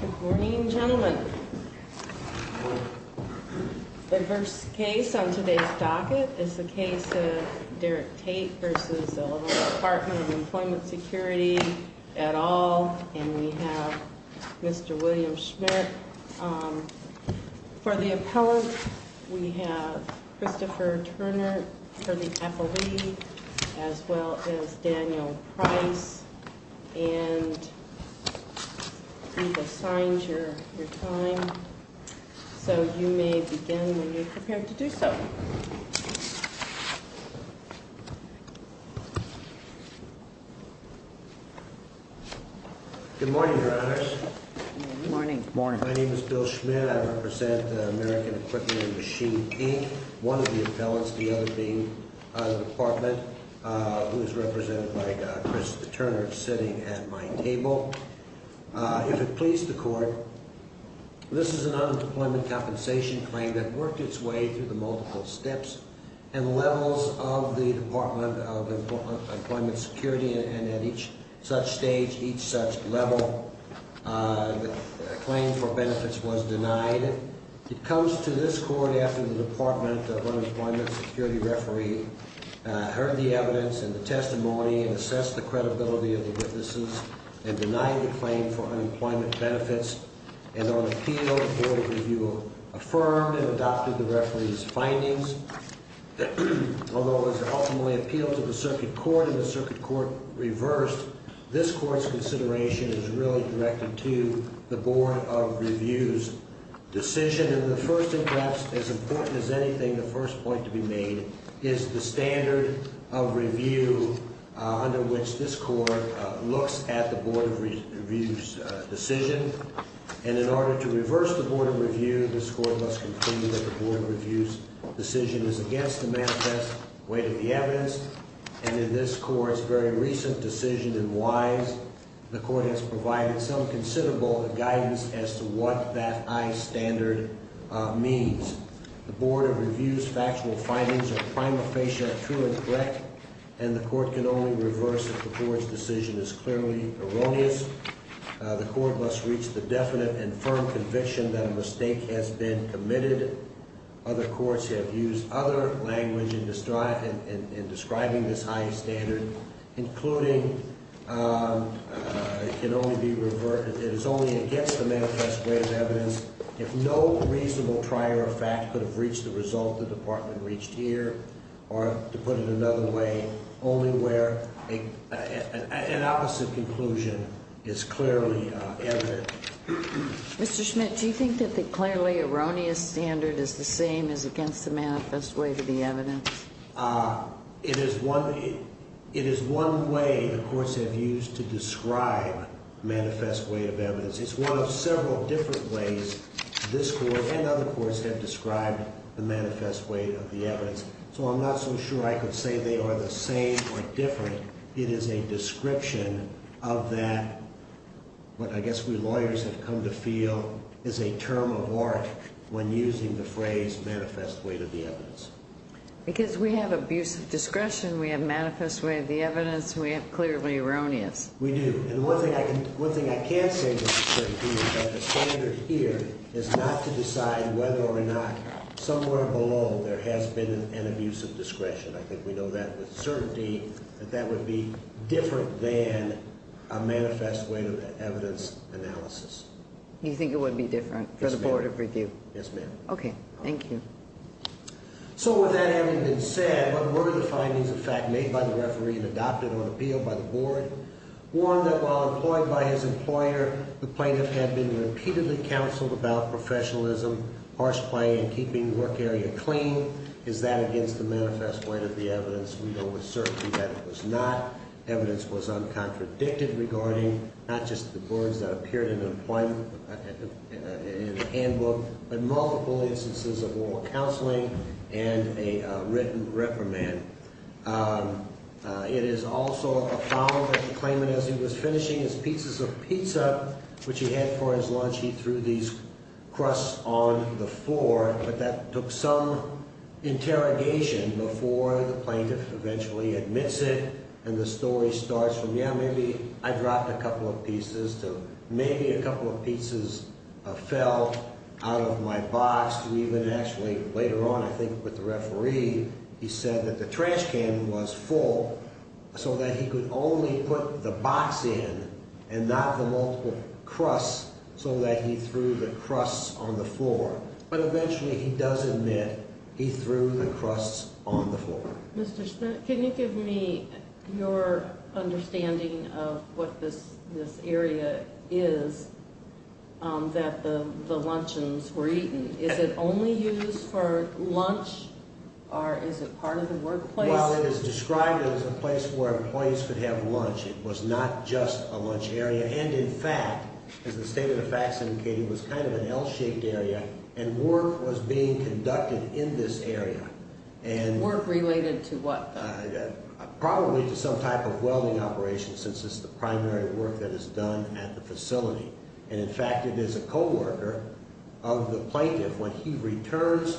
Good morning, gentlemen. The first case on today's docket is the case of Derrick Tate v. Illinois Dept. of Employment Security, et al., and we have Mr. William Schmidt. For the appellant, we have Christopher Turner for the appellee, as well as Daniel Price, and we've assigned your time, so you may begin when you're prepared to do so. Good morning, Your Honors. My name is Bill Schmidt. I represent American Equipment and Machine Inc., one of the appellants, the other being the Department, who is represented by Christopher Turner sitting at my table. If it please the Court, this is an unemployment compensation claim that worked its way through the multiple steps and levels of the Department of Employment Security, and at each such stage, each such level, the claim for benefits was denied. It comes to this Court after the Department of Unemployment Security referee heard the evidence and the testimony and assessed the credibility of the witnesses in denying the claim for unemployment benefits, and on appeal, the Board of Review affirmed and adopted the referee's findings. Although it was ultimately appealed to the Circuit Court and the Circuit Court reversed, this Court's consideration is really directed to the Board of Review's decision, and the first, and perhaps as important as anything, the first point to be made is the standard of review under which this Court looks at the Board of Review's decision. And in order to reverse the Board of Review, this Court must conclude that the Board of Review's decision is against the manifest weight of the evidence, and in this Court's very recent decision in Wise, the Court has provided some considerable guidance as to what that high standard means. The Board of Review's factual findings are prima facie true and correct, and the Court can only reverse if the Board's decision is clearly erroneous. The Court must reach the definite and firm conviction that a mistake has been committed. Other courts have used other language in describing this high standard, including it is only against the manifest weight of evidence. If no reasonable prior fact could have reached the result the Department reached here, or to put it another way, only where an opposite conclusion is clearly evident. Mr. Schmidt, do you think that the clearly erroneous standard is the same as against the manifest weight of the evidence? It is one way the courts have used to describe manifest weight of evidence. It's one of several different ways this Court and other courts have described the manifest weight of the evidence. So I'm not so sure I could say they are the same or different. It is a description of that what I guess we lawyers have come to feel is a term of art when using the phrase manifest weight of the evidence. Because we have abusive discretion, we have manifest weight of the evidence, we have clearly erroneous. We do. And one thing I can say with certainty is that the standard here is not to decide whether or not somewhere below there has been an abuse of discretion. I think we know that with certainty that that would be different than a manifest weight of evidence analysis. You think it would be different for the Board of Review? Yes, ma'am. Okay. Thank you. So with that having been said, what were the findings of fact made by the referee and adopted on appeal by the Board? One, that while employed by his employer, the plaintiff had been repeatedly counseled about professionalism, harsh play, and keeping the work area clean. Is that against the manifest weight of the evidence? We know with certainty that it was not. Evidence was uncontradicted regarding not just the boards that appeared in the handbook, but multiple instances of oral counseling and a written reprimand. It is also a found that the claimant, as he was finishing his pizzas of pizza, which he had for his lunch, he threw these crusts on the floor, but that took some interrogation before the plaintiff eventually admits it. And the story starts from, yeah, maybe I dropped a couple of pizzas to maybe a couple of pizzas fell out of my box to even actually later on, I think, with the referee, he said that the trash can was full so that he could only put the box in and not the multiple crusts so that he threw the crusts on the floor. But eventually he does admit he threw the crusts on the floor. Mr. Smith, can you give me your understanding of what this area is that the luncheons were eaten? Is it only used for lunch, or is it part of the workplace? Well, it is described as a place where employees could have lunch. It was not just a lunch area. And in fact, as the state of the fact indicated, it was kind of an L-shaped area, and work was being conducted in this area. Work related to what, though? Probably to some type of welding operation, since it's the primary work that is done at the facility. And in fact, it is a co-worker of the plaintiff when he returns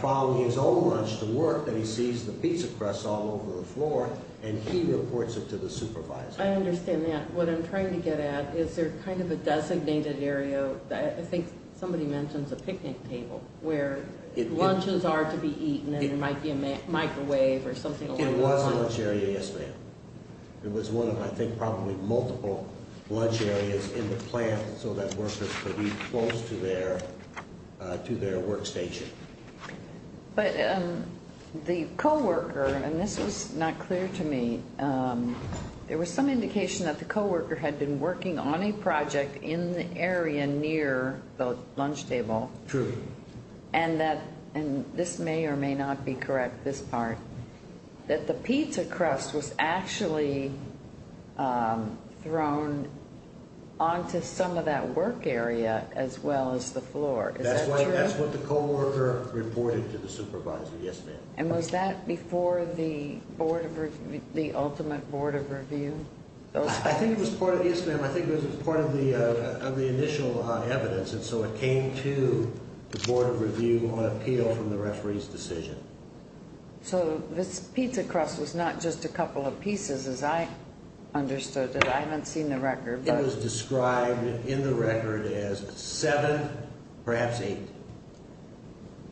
following his own lunch to work that he sees the pizza crusts all over the floor, and he reports it to the supervisor. I understand that. What I'm trying to get at, is there kind of a designated area? I think somebody mentions a picnic table where lunches are to be eaten, and there might be a microwave or something along that line. It was a lunch area, yes, ma'am. It was one of, I think, probably multiple lunch areas in the plant so that workers could be close to their workstation. But the co-worker, and this was not clear to me, there was some indication that the co-worker had been working on a project in the area near the lunch table. True. And that, and this may or may not be correct, this part, that the pizza crust was actually thrown onto some of that work area as well as the floor. Is that true? That's what the co-worker reported to the supervisor, yes, ma'am. And was that before the ultimate Board of Review? I think it was part of, yes, ma'am, I think it was part of the initial evidence, and so it came to the Board of Review on appeal from the referee's decision. So this pizza crust was not just a couple of pieces as I understood it. I haven't seen the record. It was described in the record as seven, perhaps eight.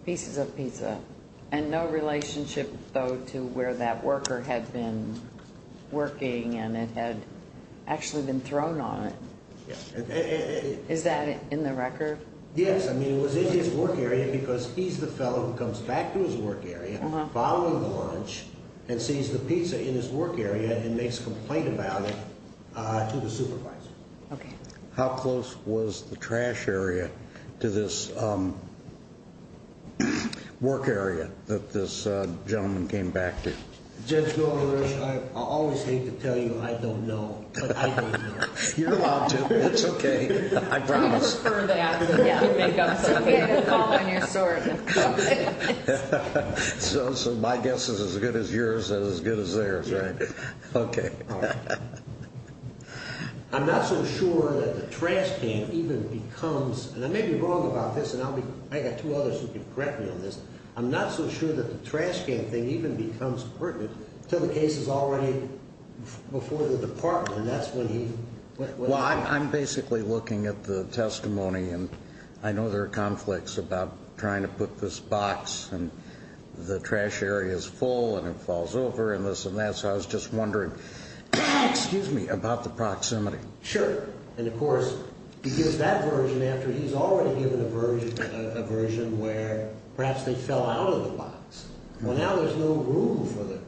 Pieces of pizza. And no relationship, though, to where that worker had been working and it had actually been thrown on it. Yes. Is that in the record? Yes, I mean, it was in his work area because he's the fellow who comes back to his work area following lunch and sees the pizza in his work area and makes a complaint about it to the supervisor. Okay. How close was the trash area to this work area that this gentleman came back to? Judge Goldberg, I always hate to tell you I don't know, but I don't know. You're allowed to. That's okay. I promise. You can call on your sword. So my guess is as good as yours and as good as theirs, right? Okay. I'm not so sure that the trash can even becomes, and I may be wrong about this, and I've got two others who can correct me on this. I'm not so sure that the trash can thing even becomes pertinent until the case is already before the department, and that's when he. Well, I'm basically looking at the testimony, and I know there are conflicts about trying to put this box, and the trash area is full, and it falls over, and this and that. So I was just wondering, excuse me, about the proximity. Sure. And, of course, he gives that version after he's already given a version where perhaps they fell out of the box. Well, now there's no room for them.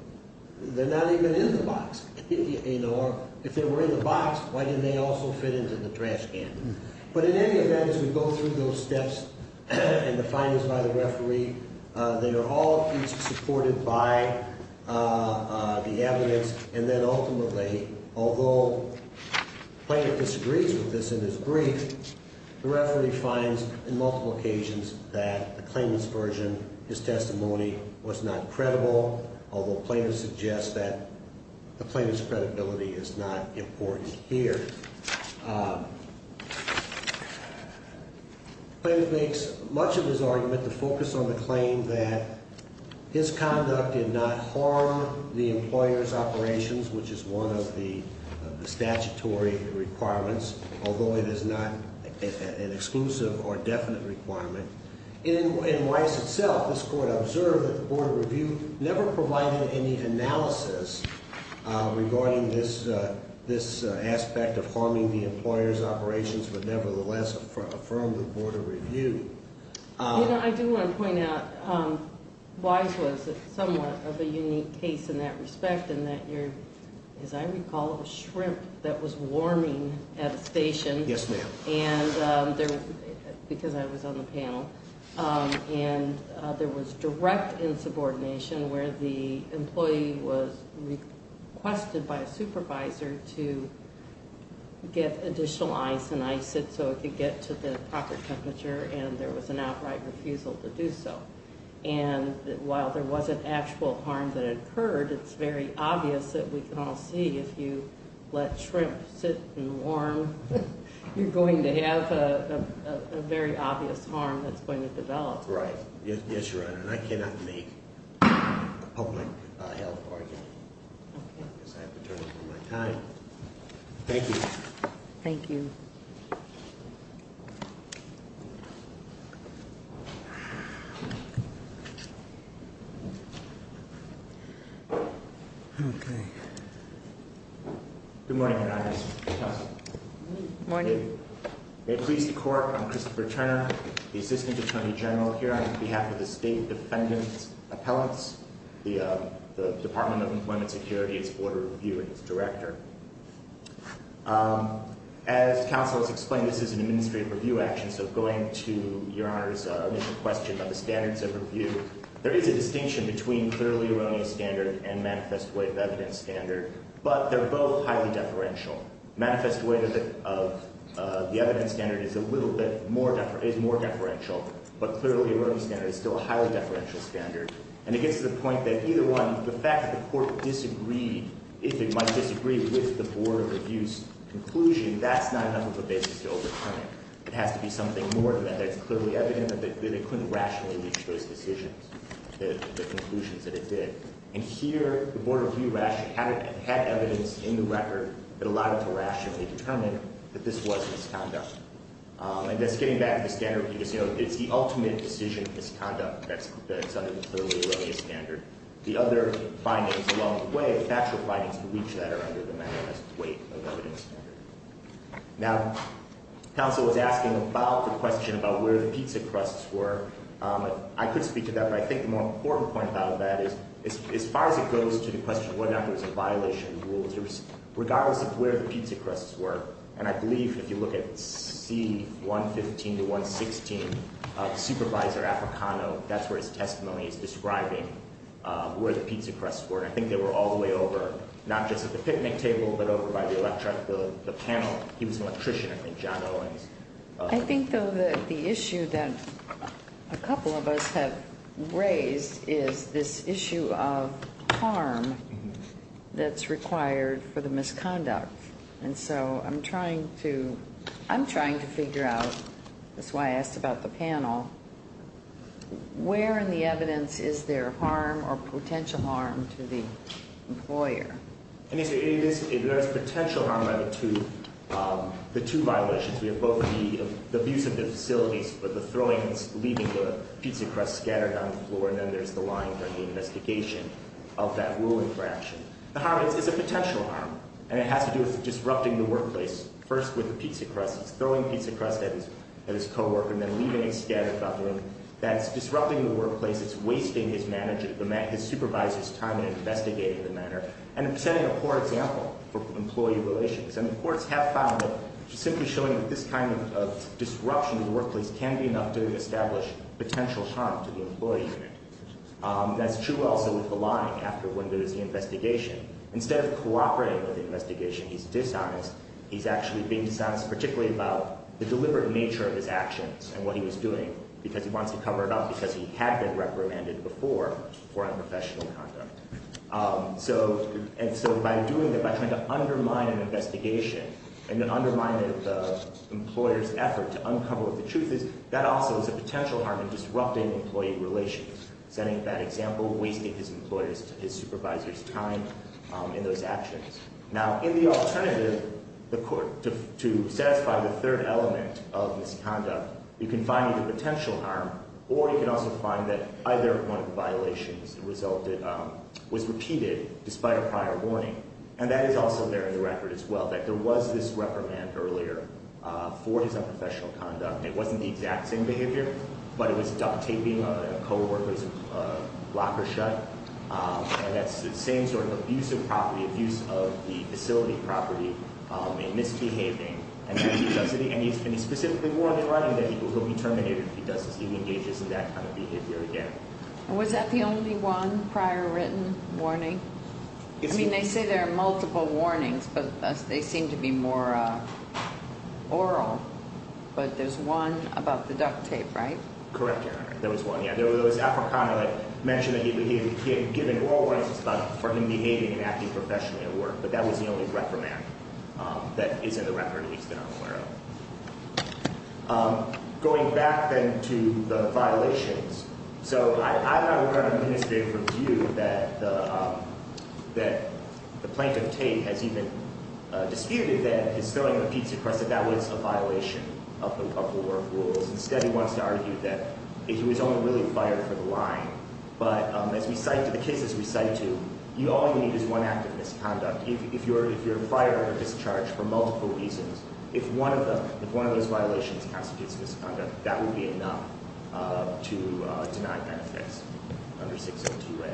They're not even in the box. If they were in the box, why didn't they also fit into the trash can? But in any event, as we go through those steps and the findings by the referee, they are all supported by the evidence, and then ultimately, although the plaintiff disagrees with this in his brief, the referee finds in multiple occasions that the claimant's version, his testimony, was not credible, although plaintiff suggests that the plaintiff's credibility is not important here. Plaintiff makes much of his argument to focus on the claim that his conduct did not harm the employer's operations, which is one of the statutory requirements, although it is not an exclusive or definite requirement. In Wise itself, this Court observed that the Board of Review never provided any analysis regarding this aspect of harming the employer's operations, but nevertheless affirmed the Board of Review. You know, I do want to point out Wise was somewhat of a unique case in that respect, in that you're, as I recall, a shrimp that was warming at a station. Yes, ma'am. Because I was on the panel. And there was direct insubordination where the employee was requested by a supervisor to get additional ice and ice it so it could get to the proper temperature, and there was an outright refusal to do so. And while there wasn't actual harm that occurred, it's very obvious that we can all see if you let shrimp sit and warm, you're going to have a very obvious harm that's going to develop. Right. Yes, Your Honor, and I cannot make a public health argument. Okay. Because I have to turn over my time. Thank you. Thank you. Okay. Good morning, Your Honors. Good morning. May it please the Court, I'm Christopher Turner, the Assistant Attorney General here on behalf of the State Defendant's Appellants, the Department of Employment Security's Board of Review and its director. As counsel has explained, this is an administrative review action, so going to Your Honor's initial question about the standards of review, there is a distinction between clearly erroneous standard and manifest weight of evidence standard, but they're both highly deferential. Manifest weight of the evidence standard is a little bit more deferential, but clearly erroneous standard is still a highly deferential standard. And it gets to the point that either one, the fact that the Court disagreed, if it might disagree, with the Board of Review's conclusion, that's not enough of a basis to overturn it. It has to be something more than that. It's clearly evident that it couldn't rationally reach those decisions, the conclusions that it did. And here, the Board of Review had evidence in the record that allowed it to rationally determine that this was misconduct. And just getting back to the standard review, it's the ultimate decision of misconduct that's under the clearly erroneous standard. The other findings along the way, the factual findings, believe that are under the manifest weight of evidence standard. Now, counsel was asking about the question about where the pizza crusts were. I could speak to that, but I think the more important point about that is as far as it goes to the question of whether or not there was a violation of the rules, regardless of where the pizza crusts were, and I believe if you look at C115 to 116, Supervisor Africano, that's where his testimony is describing where the pizza crusts were. And I think they were all the way over, not just at the picnic table, but over by the electric, the panel. He was an electrician, I think, John Owens. I think, though, that the issue that a couple of us have raised is this issue of harm that's required for the misconduct. And so I'm trying to figure out, that's why I asked about the panel, where in the evidence is there harm or potential harm to the employer? And so there is potential harm to the two violations. We have both the abuse of the facilities, but the throwing and leaving the pizza crusts scattered on the floor, and then there's the line for the investigation of that ruling for action. The harm is a potential harm, and it has to do with disrupting the workplace, first with the pizza crusts, throwing pizza crusts at his coworker, and then leaving it scattered about the room. That's disrupting the workplace, it's wasting his supervisor's time in investigating the matter, and it's setting a poor example for employee relations. And the courts have found that simply showing this kind of disruption to the workplace can be enough to establish potential harm to the employee unit. That's true also with the line after when there's the investigation. Instead of cooperating with the investigation, he's dishonest. He's actually being dishonest, particularly about the deliberate nature of his actions and what he was doing, because he wants to cover it up because he had been reprimanded before for unprofessional conduct. And so by doing that, by trying to undermine an investigation and undermine the employer's effort to uncover what the truth is, that also is a potential harm in disrupting employee relations, setting a bad example, wasting his supervisor's time in those actions. Now, in the alternative, to satisfy the third element of this conduct, you can find either potential harm, or you can also find that either one of the violations was repeated despite a prior warning. And that is also there in the record as well, that there was this reprimand earlier for his unprofessional conduct. It wasn't the exact same behavior, but it was duct taping a coworker's locker shut. And that's the same sort of abusive property, abuse of the facility property and misbehaving. And he specifically warned in writing that he will be terminated if he engages in that kind of behavior again. Was that the only one prior written warning? I mean, they say there are multiple warnings, but they seem to be more oral. But there's one about the duct tape, right? Correct, Your Honor. There was one, yeah. It was Africano that mentioned that he had given oral warnings for him behaving and acting professionally at work. But that was the only reprimand that is in the record, at least that I'm aware of. Going back, then, to the violations, so I'm not going to administrate for view that the plaintiff, Tate, has even disputed that his filling the pizza crust, that that was a violation of the work rules. Instead, he wants to argue that he was only really fired for the line. But as we cite to the cases we cite to, all you need is one act of misconduct. If you're fired on a discharge for multiple reasons, if one of those violations constitutes misconduct, that would be enough to deny benefits under 602A.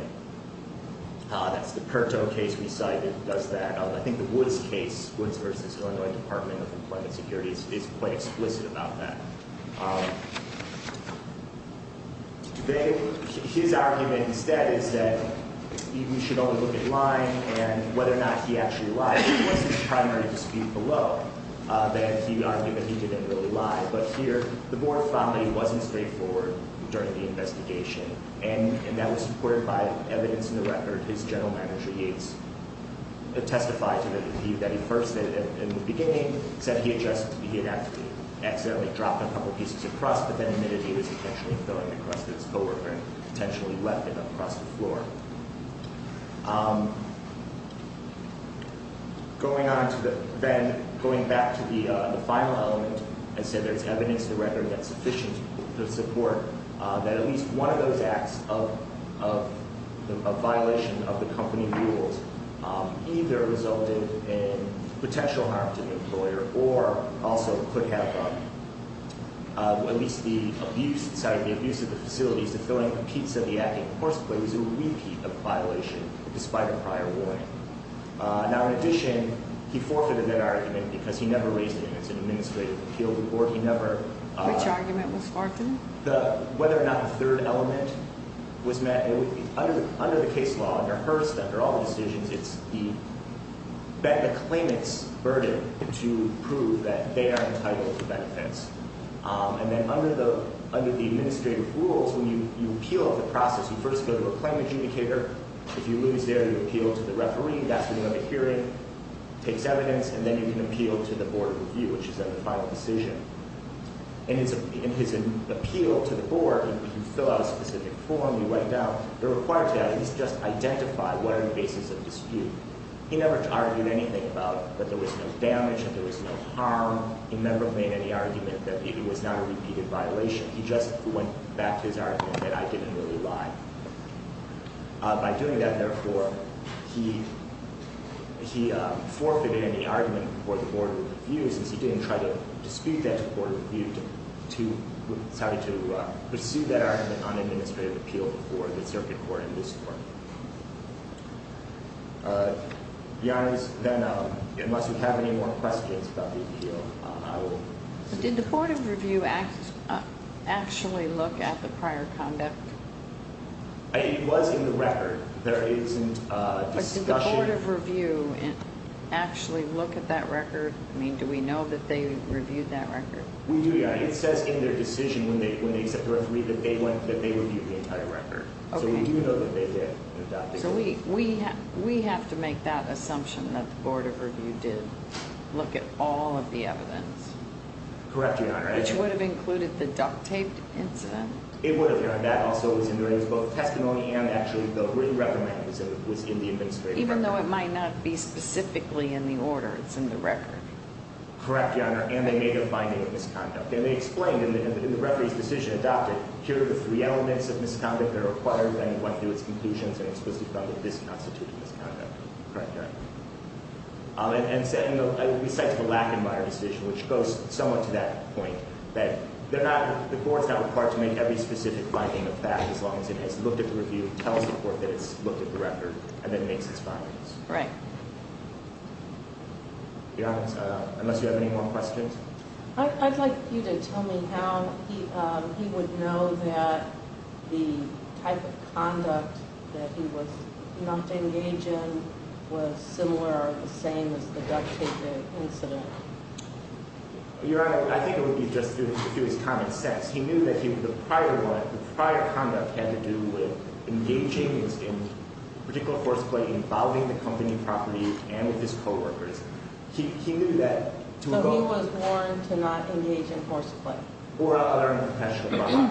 That's the Curto case we cite that does that. I think the Woods case, Woods v. Illinois Department of Employment Security, is quite explicit about that. His argument, instead, is that we should only look at lying and whether or not he actually lied. If it was his primary dispute below, then he would argue that he didn't really lie. But here, the board found that he wasn't straightforward during the investigation, and that was supported by evidence in the record. His general manager, Yates, testified that he first, in the beginning, said he had accidentally dropped a couple pieces of crust, but then admitted he was intentionally filling the crust of his coworker and potentially left it across the floor. Going back to the final element, I said there's evidence in the record that's sufficient to support that at least one of those acts of violation of the company rules either resulted in potential harm to the employer or also could have, at least the abuse of the facilities, the filling of a piece of the active course plate, is a repeat of the violation despite a prior warning. Now, in addition, he forfeited that argument because he never raised it in an administrative appeal to the board. Which argument was forfeited? Whether or not the third element was met. Under the case law, under Hearst, under all the decisions, it's the claimant's burden to prove that they are entitled to benefits. And then under the administrative rules, when you appeal the process, you first go to a claim adjudicator. If you lose there, you appeal to the referee. That's when you have a hearing. Takes evidence, and then you can appeal to the board of review, which is then the final decision. In his appeal to the board, you fill out a specific form. You write it down. You're required to at least just identify what are the basis of dispute. He never argued anything about that there was no damage, that there was no harm. He never made any argument that it was not a repeated violation. He just went back to his argument that I didn't really lie. By doing that, therefore, he forfeited any argument for the board of reviews since he didn't try to dispute that to the board of review. He decided to pursue that argument on administrative appeal before the circuit court in this court. Your Honor, unless you have any more questions about the appeal, I will. Did the board of review actually look at the prior conduct? It was in the record. There isn't discussion. But did the board of review actually look at that record? I mean, do we know that they reviewed that record? We do, Your Honor. It says in their decision when they accept the referee that they reviewed the entire record. Okay. So we do know that they did. So we have to make that assumption that the board of review did look at all of the evidence. Correct, Your Honor. Which would have included the duct-taped incident? It would have, Your Honor. That also was in there. It was both testimony and actually the written recommendation was in the administrative record. Even though it might not be specifically in the order, it's in the record. Correct, Your Honor. And they made a finding of misconduct. And they explained in the referee's decision adopted, here are the three elements of misconduct that are required, and it went through its conclusions and explicitly found that this constitutes misconduct. Correct, Your Honor. And we cite the Lackadmire decision, which goes somewhat to that point, that the board is not required to make every specific finding of that as long as it has looked at the review, tells the court that it's looked at the record, and then makes its findings. Right. Your Honor, unless you have any more questions? I'd like you to tell me how he would know that the type of conduct that he was not engaged in was similar or the same as the duct-taped incident. Your Honor, I think it would be just through his common sense. He knew that the prior conduct had to do with engaging in particular force play involving the company property and with his co-workers. He knew that to avoid – So he was warned to not engage in force play. Or other unprofessional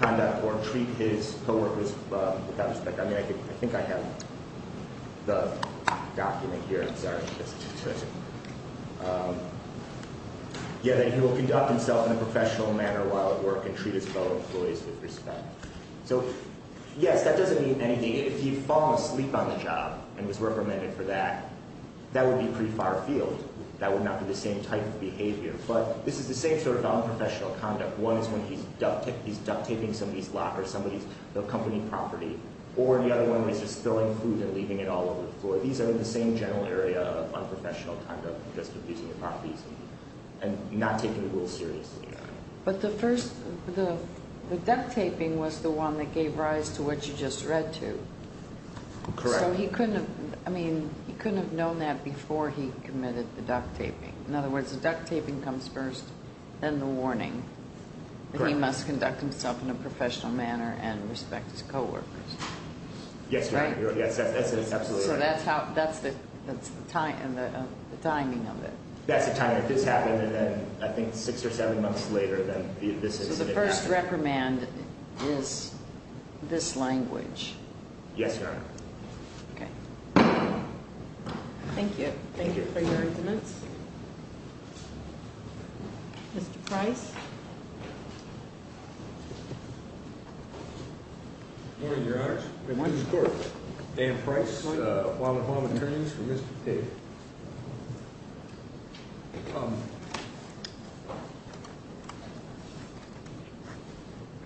conduct or treat his co-workers without respect. I mean, I think I have the document here. I'm sorry. Yeah, that he will conduct himself in a professional manner while at work and treat his fellow employees with respect. So, yes, that doesn't mean anything. If he fell asleep on the job and was reprimanded for that, that would be pretty far-field. That would not be the same type of behavior. But this is the same sort of unprofessional conduct. One is when he's duct-taping somebody's locker, somebody's company property. Or the other one is just spilling food and leaving it all over the floor. So these are the same general area of unprofessional conduct, just abusing the properties and not taking the rules seriously. But the first – the duct-taping was the one that gave rise to what you just read to. Correct. So he couldn't have – I mean, he couldn't have known that before he committed the duct-taping. In other words, the duct-taping comes first, then the warning. Correct. That he must conduct himself in a professional manner and respect his co-workers. Yes, Your Honor. That's absolutely right. So that's how – that's the timing of it. That's the timing. If this happened, and then I think six or seven months later, then this is what happened. So the first reprimand is this language. Yes, Your Honor. Okay. Thank you. Thank you. For your arguments. Mr. Price? Good morning, Your Honor. Good morning, Mr. Court. Dan Price, appointed home attorney for Mr. Tate.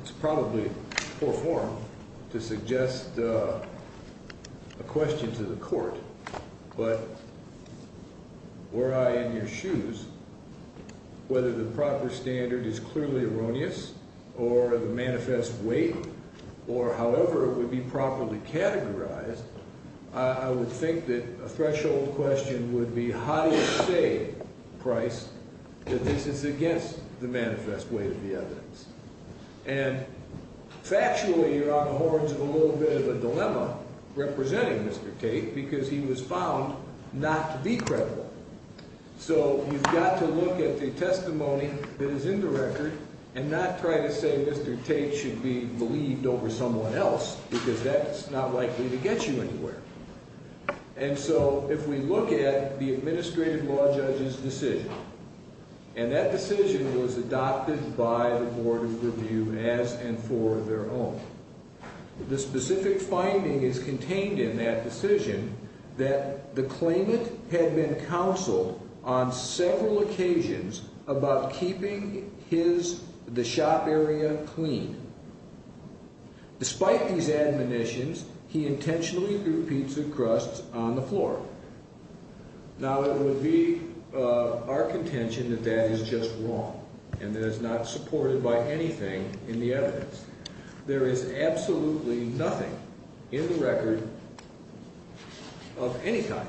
It's probably poor form to suggest a question to the court, but were I in your shoes, whether the proper standard is clearly erroneous, or the manifest weight, or however it would be properly categorized, I would think that a threshold question would be, how do you say, Price, that this is against the manifest weight of the evidence? And factually, you're on the horns of a little bit of a dilemma representing Mr. Tate, because he was found not to be credible. So you've got to look at the testimony that is in the record and not try to say Mr. Tate should be believed over someone else, because that's not likely to get you anywhere. And so if we look at the administrative law judge's decision, and that decision was adopted by the Board of Review as and for their own, the specific finding is contained in that on several occasions about keeping the shop area clean. Despite these admonitions, he intentionally threw pizza crusts on the floor. Now, it would be our contention that that is just wrong, and that it's not supported by anything in the evidence. There is absolutely nothing in the record of any type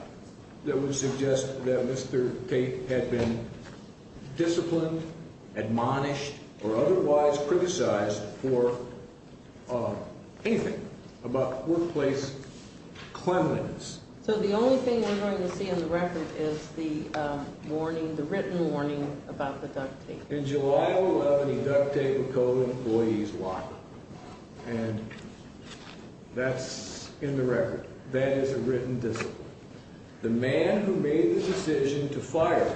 that would suggest that Mr. Tate had been disciplined, admonished, or otherwise criticized for anything about workplace cleanliness. So the only thing we're going to see in the record is the warning, the written warning about the duct tape. In July of 11, he duct taped a co-employee's locker, and that's in the record. That is a written discipline. The man who made the decision to fire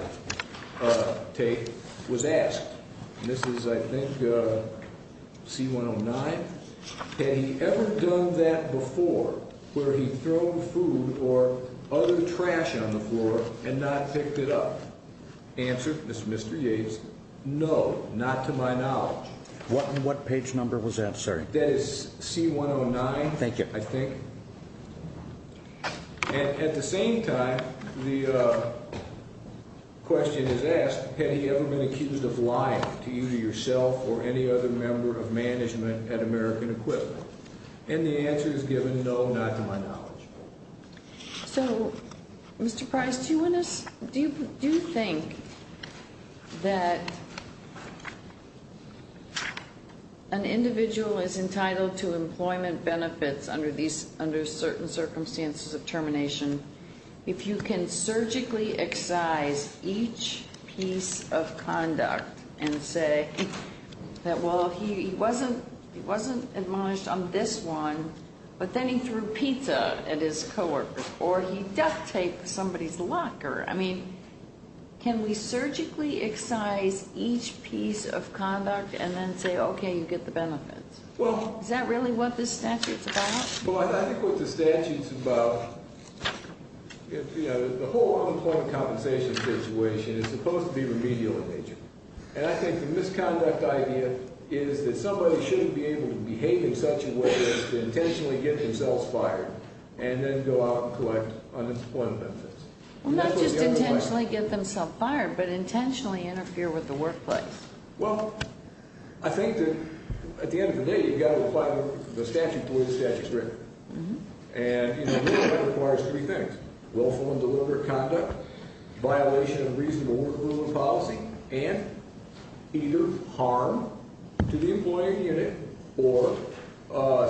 Tate was asked, and this is, I think, C-109, had he ever done that before, where he'd thrown food or other trash on the floor and not picked it up? The answer, Mr. Yates, no, not to my knowledge. What page number was that, sir? That is C-109, I think. At the same time, the question is asked, had he ever been accused of lying to you, to yourself, or any other member of management at American Equipment? And the answer is given, no, not to my knowledge. So, Mr. Price, do you think that an individual is entitled to employment benefits under certain circumstances of termination if you can surgically excise each piece of conduct and say that, well, he wasn't admonished on this one, but then he threw pizza at his co-worker, or he duct taped somebody's locker? I mean, can we surgically excise each piece of conduct and then say, okay, you get the benefits? Is that really what this statute's about? Well, I think what the statute's about, the whole unemployment compensation situation is supposed to be remedial in nature. And I think the misconduct idea is that somebody shouldn't be able to behave in such a way as to intentionally get themselves fired and then go out and collect unemployment benefits. Not just intentionally get themselves fired, but intentionally interfere with the workplace. Well, I think that at the end of the day, you've got to apply the statute to where the statute's written. And, you know, the employment requires three things, willful and deliberate conduct, violation of reasonable work rules and policy, and either harm to the employee or unit or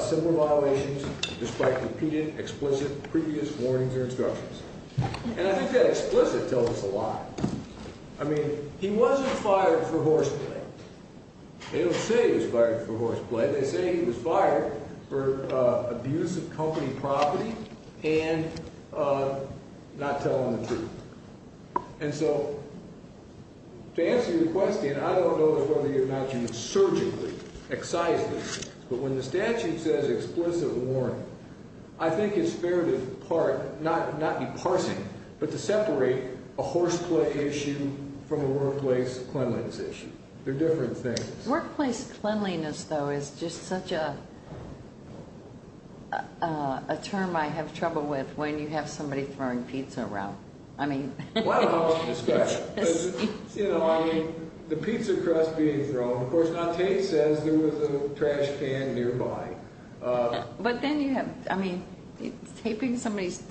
civil violations despite repeated explicit previous warnings or instructions. And I think that explicit tells us a lot. I mean, he wasn't fired for horseplay. They don't say he was fired for horseplay. They say he was fired for abuse of company property and not telling the truth. And so to answer your question, I don't know whether or not you surgically excise these things. But when the statute says explicit warning, I think it's fair to part, not be parsing, but to separate a horseplay issue from a workplace cleanliness issue. They're different things. Workplace cleanliness, though, is just such a term I have trouble with when you have somebody throwing pizza around. I mean... Well, I don't suspect. You know, I mean, the pizza crust being thrown. Of course, now Tate says there was a trash can nearby. But then you have, I mean, duct taping somebody's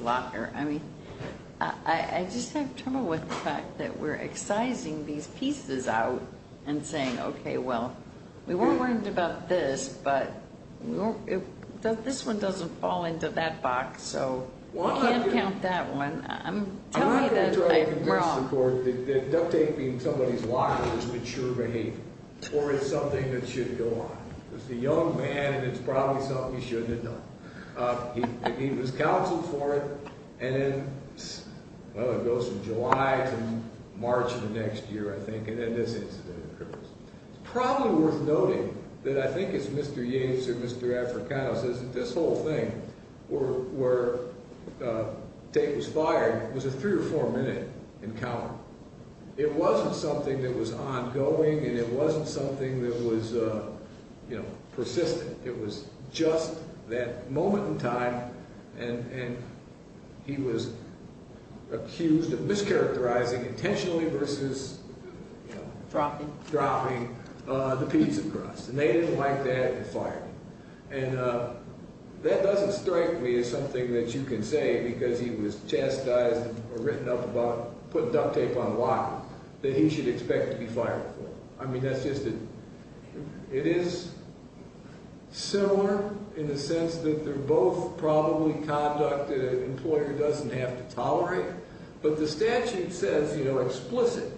locker. I mean, I just have trouble with the fact that we're excising these pieces out and saying, okay, well, we weren't worried about this, but this one doesn't fall into that box. So I can't count that one. I'm telling you that I'm wrong. I'm not going to try to convince the court that duct taping somebody's locker is mature behavior or it's something that should go on. It's a young man, and it's probably something he shouldn't have done. He was counseled for it, and then, well, it goes from July to March of the next year, I think, and then this incident occurs. It's probably worth noting that I think it's Mr. Yates or Mr. Africano, this whole thing where Tate was fired was a three- or four-minute encounter. It wasn't something that was ongoing, and it wasn't something that was persistent. It was just that moment in time, and he was accused of mischaracterizing intentionally versus dropping the pizza crust, and they didn't like that and fired him. And that doesn't strike me as something that you can say because he was chastised or written up about putting duct tape on a locker that he should expect to be fired for. I mean, that's just a – it is similar in the sense that they're both probably conduct that an employer doesn't have to tolerate, but the statute says explicit,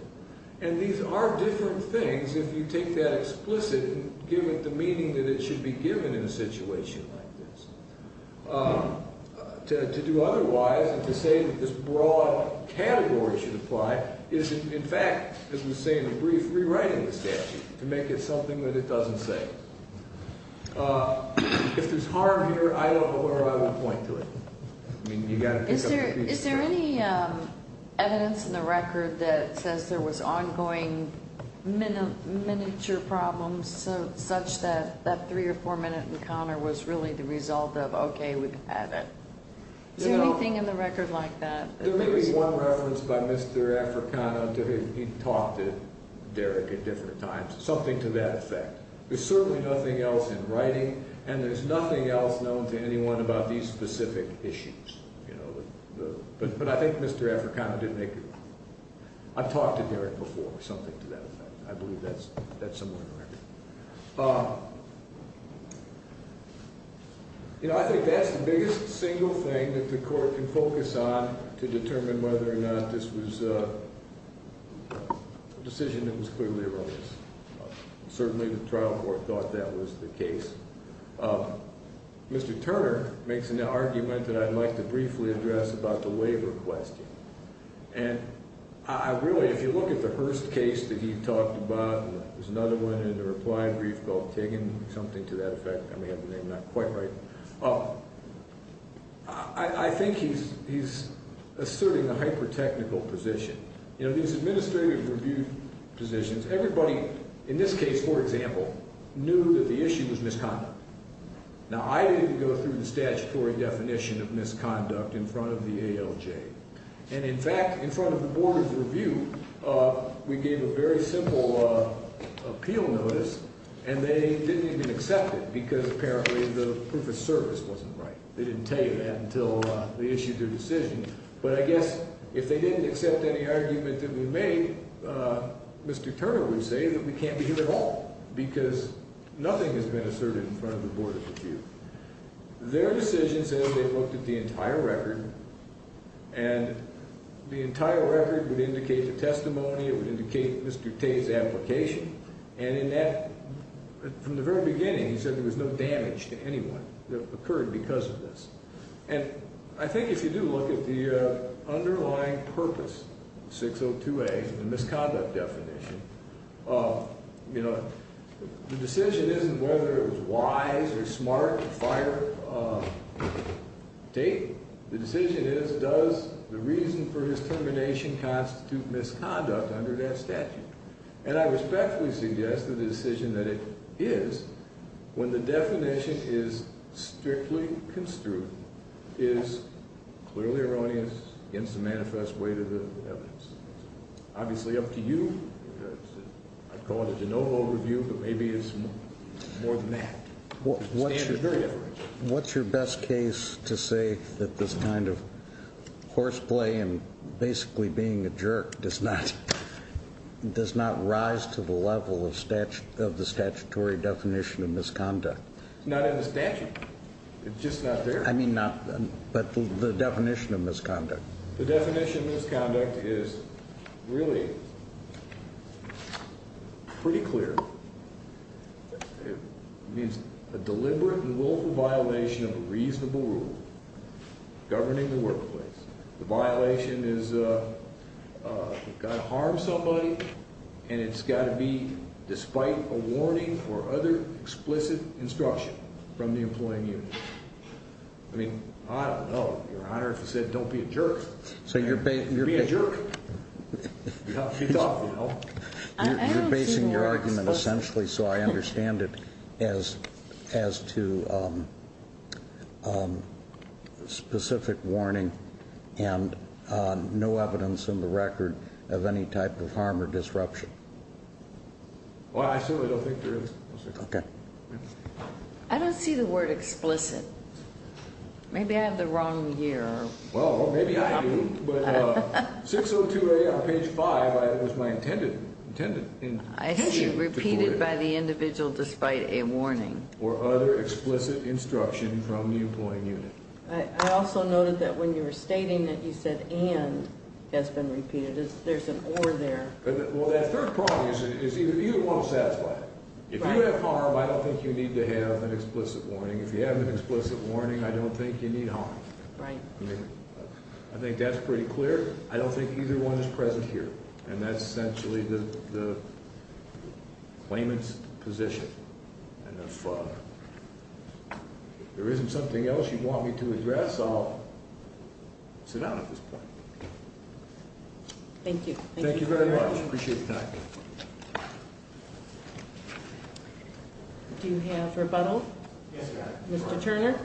and these are different things if you take that explicit and give it the meaning that it should be given in a situation like this. To do otherwise and to say that this broad category should apply is, in fact, as we say in the brief, rewriting the statute to make it something that it doesn't say. If there's harm here, I don't know where I would point to it. Is there any evidence in the record that says there was ongoing miniature problems such that that three- or four-minute encounter was really the result of, okay, we've had it? Is there anything in the record like that? There may be one reference by Mr. Africano to him. He talked to Derek at different times, something to that effect. There's certainly nothing else in writing, and there's nothing else known to anyone about these specific issues. But I think Mr. Africano did make a point. I've talked to Derek before, something to that effect. I believe that's somewhere in the record. I think that's the biggest single thing that the court can focus on to determine whether or not this was a decision that was clearly erroneous. Certainly the trial court thought that was the case. Mr. Turner makes an argument that I'd like to briefly address about the waiver question. And I really, if you look at the Hearst case that he talked about, there's another one in the reply brief called Tiggin, something to that effect. I may have the name not quite right. I think he's asserting a hyper-technical position. These administrative review positions, everybody in this case, for example, knew that the issue was misconduct. Now, I didn't go through the statutory definition of misconduct in front of the ALJ. And, in fact, in front of the Board of Review, we gave a very simple appeal notice, and they didn't even accept it because apparently the proof of service wasn't right. They didn't tell you that until they issued their decision. But I guess if they didn't accept any argument that we made, I think Mr. Turner would say that we can't be here at all because nothing has been asserted in front of the Board of Review. Their decision says they looked at the entire record, and the entire record would indicate the testimony. It would indicate Mr. Tate's application. And in that, from the very beginning, he said there was no damage to anyone that occurred because of this. And I think if you do look at the underlying purpose, 602A, the misconduct definition, you know, the decision isn't whether it was wise or smart to fire Tate. The decision is does the reason for his termination constitute misconduct under that statute? And I respectfully suggest that the decision that it is, when the definition is strictly construed, is clearly erroneous against the manifest weight of the evidence. Obviously, up to you. I'd call it a de novo review, but maybe it's more than that. What's your best case to say that this kind of horseplay and basically being a jerk does not rise to the level of the statutory definition of misconduct? It's not in the statute. It's just not there. I mean not, but the definition of misconduct. The definition of misconduct is really pretty clear. It means a deliberate and willful violation of a reasonable rule governing the workplace. The violation is you've got to harm somebody, and it's got to be despite a warning or other explicit instruction from the employing unit. I mean, I don't know, Your Honor, if it said don't be a jerk, you'd be a jerk. She's off, you know. You're basing your argument essentially so I understand it as to specific warning and no evidence in the record of any type of harm or disruption. Well, I certainly don't think there is. I don't see the word explicit. Maybe I have the wrong year. Well, maybe I do, but 602A on page 5 was my intended. I see repeated by the individual despite a warning. Or other explicit instruction from the employing unit. I also noted that when you were stating that you said and has been repeated. There's an or there. Well, that third problem is either you want to satisfy it. If you have harm, I don't think you need to have an explicit warning. If you have an explicit warning, I don't think you need harm. Right. I think that's pretty clear. I don't think either one is present here. And that's essentially the claimant's position. And if there isn't something else you want me to address, I'll sit down at this point. Thank you. Thank you very much. Do you have rebuttal? Yes, Your Honor. Mr. Turner.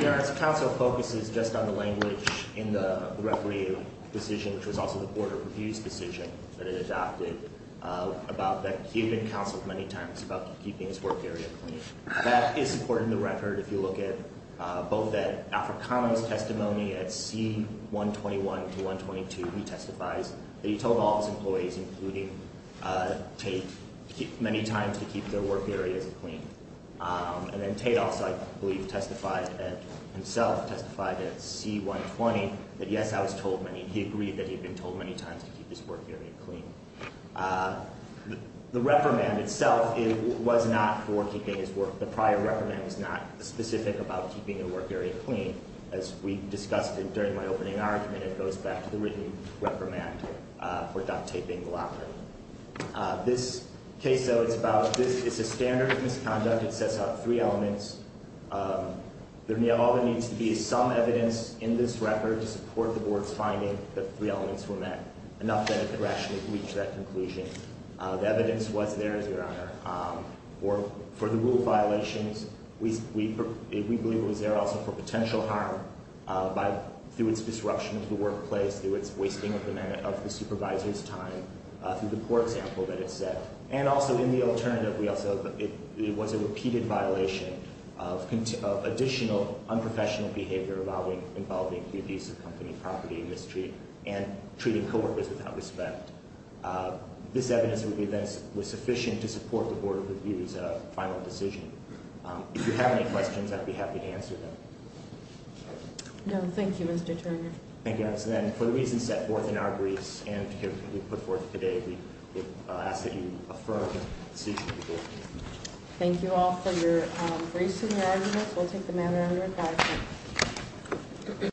Your Honor, this counsel focuses just on the language in the referee decision, which was also the Board of Review's decision that it adopted. About that he had been counseled many times about keeping his work area clean. That is supported in the record if you look at both at Africano's testimony at C-121 to 122. He testifies that he told all his employees, including Tate, many times to keep their work areas clean. And then Tate also, I believe, testified himself, testified at C-120 that, yes, I was told many. He agreed that he had been told many times to keep his work area clean. The reprimand itself was not for keeping his work. The prior reprimand was not specific about keeping your work area clean. As we discussed during my opening argument, it goes back to the written reprimand for duct taping the locker. This case, though, it's about – it's a standard misconduct. It sets out three elements. All there needs to be is some evidence in this record to support the Board's finding that three elements were met. Enough that it could rationally reach that conclusion. The evidence was there, Your Honor, for the rule violations. We believe it was there also for potential harm through its disruption of the workplace, through its wasting of the supervisor's time, through the poor example that it set. And also in the alternative, it was a repeated violation of additional unprofessional behavior involving abuse of company property and mistreatment and treating coworkers without respect. This evidence would be then sufficient to support the Board's final decision. If you have any questions, I'd be happy to answer them. No, thank you, Mr. Turner. Thank you, Your Honor. So then, for the reasons set forth in our briefs and put forth today, we ask that you affirm the decision. Thank you all for your briefs and your arguments. We'll take the matter under report.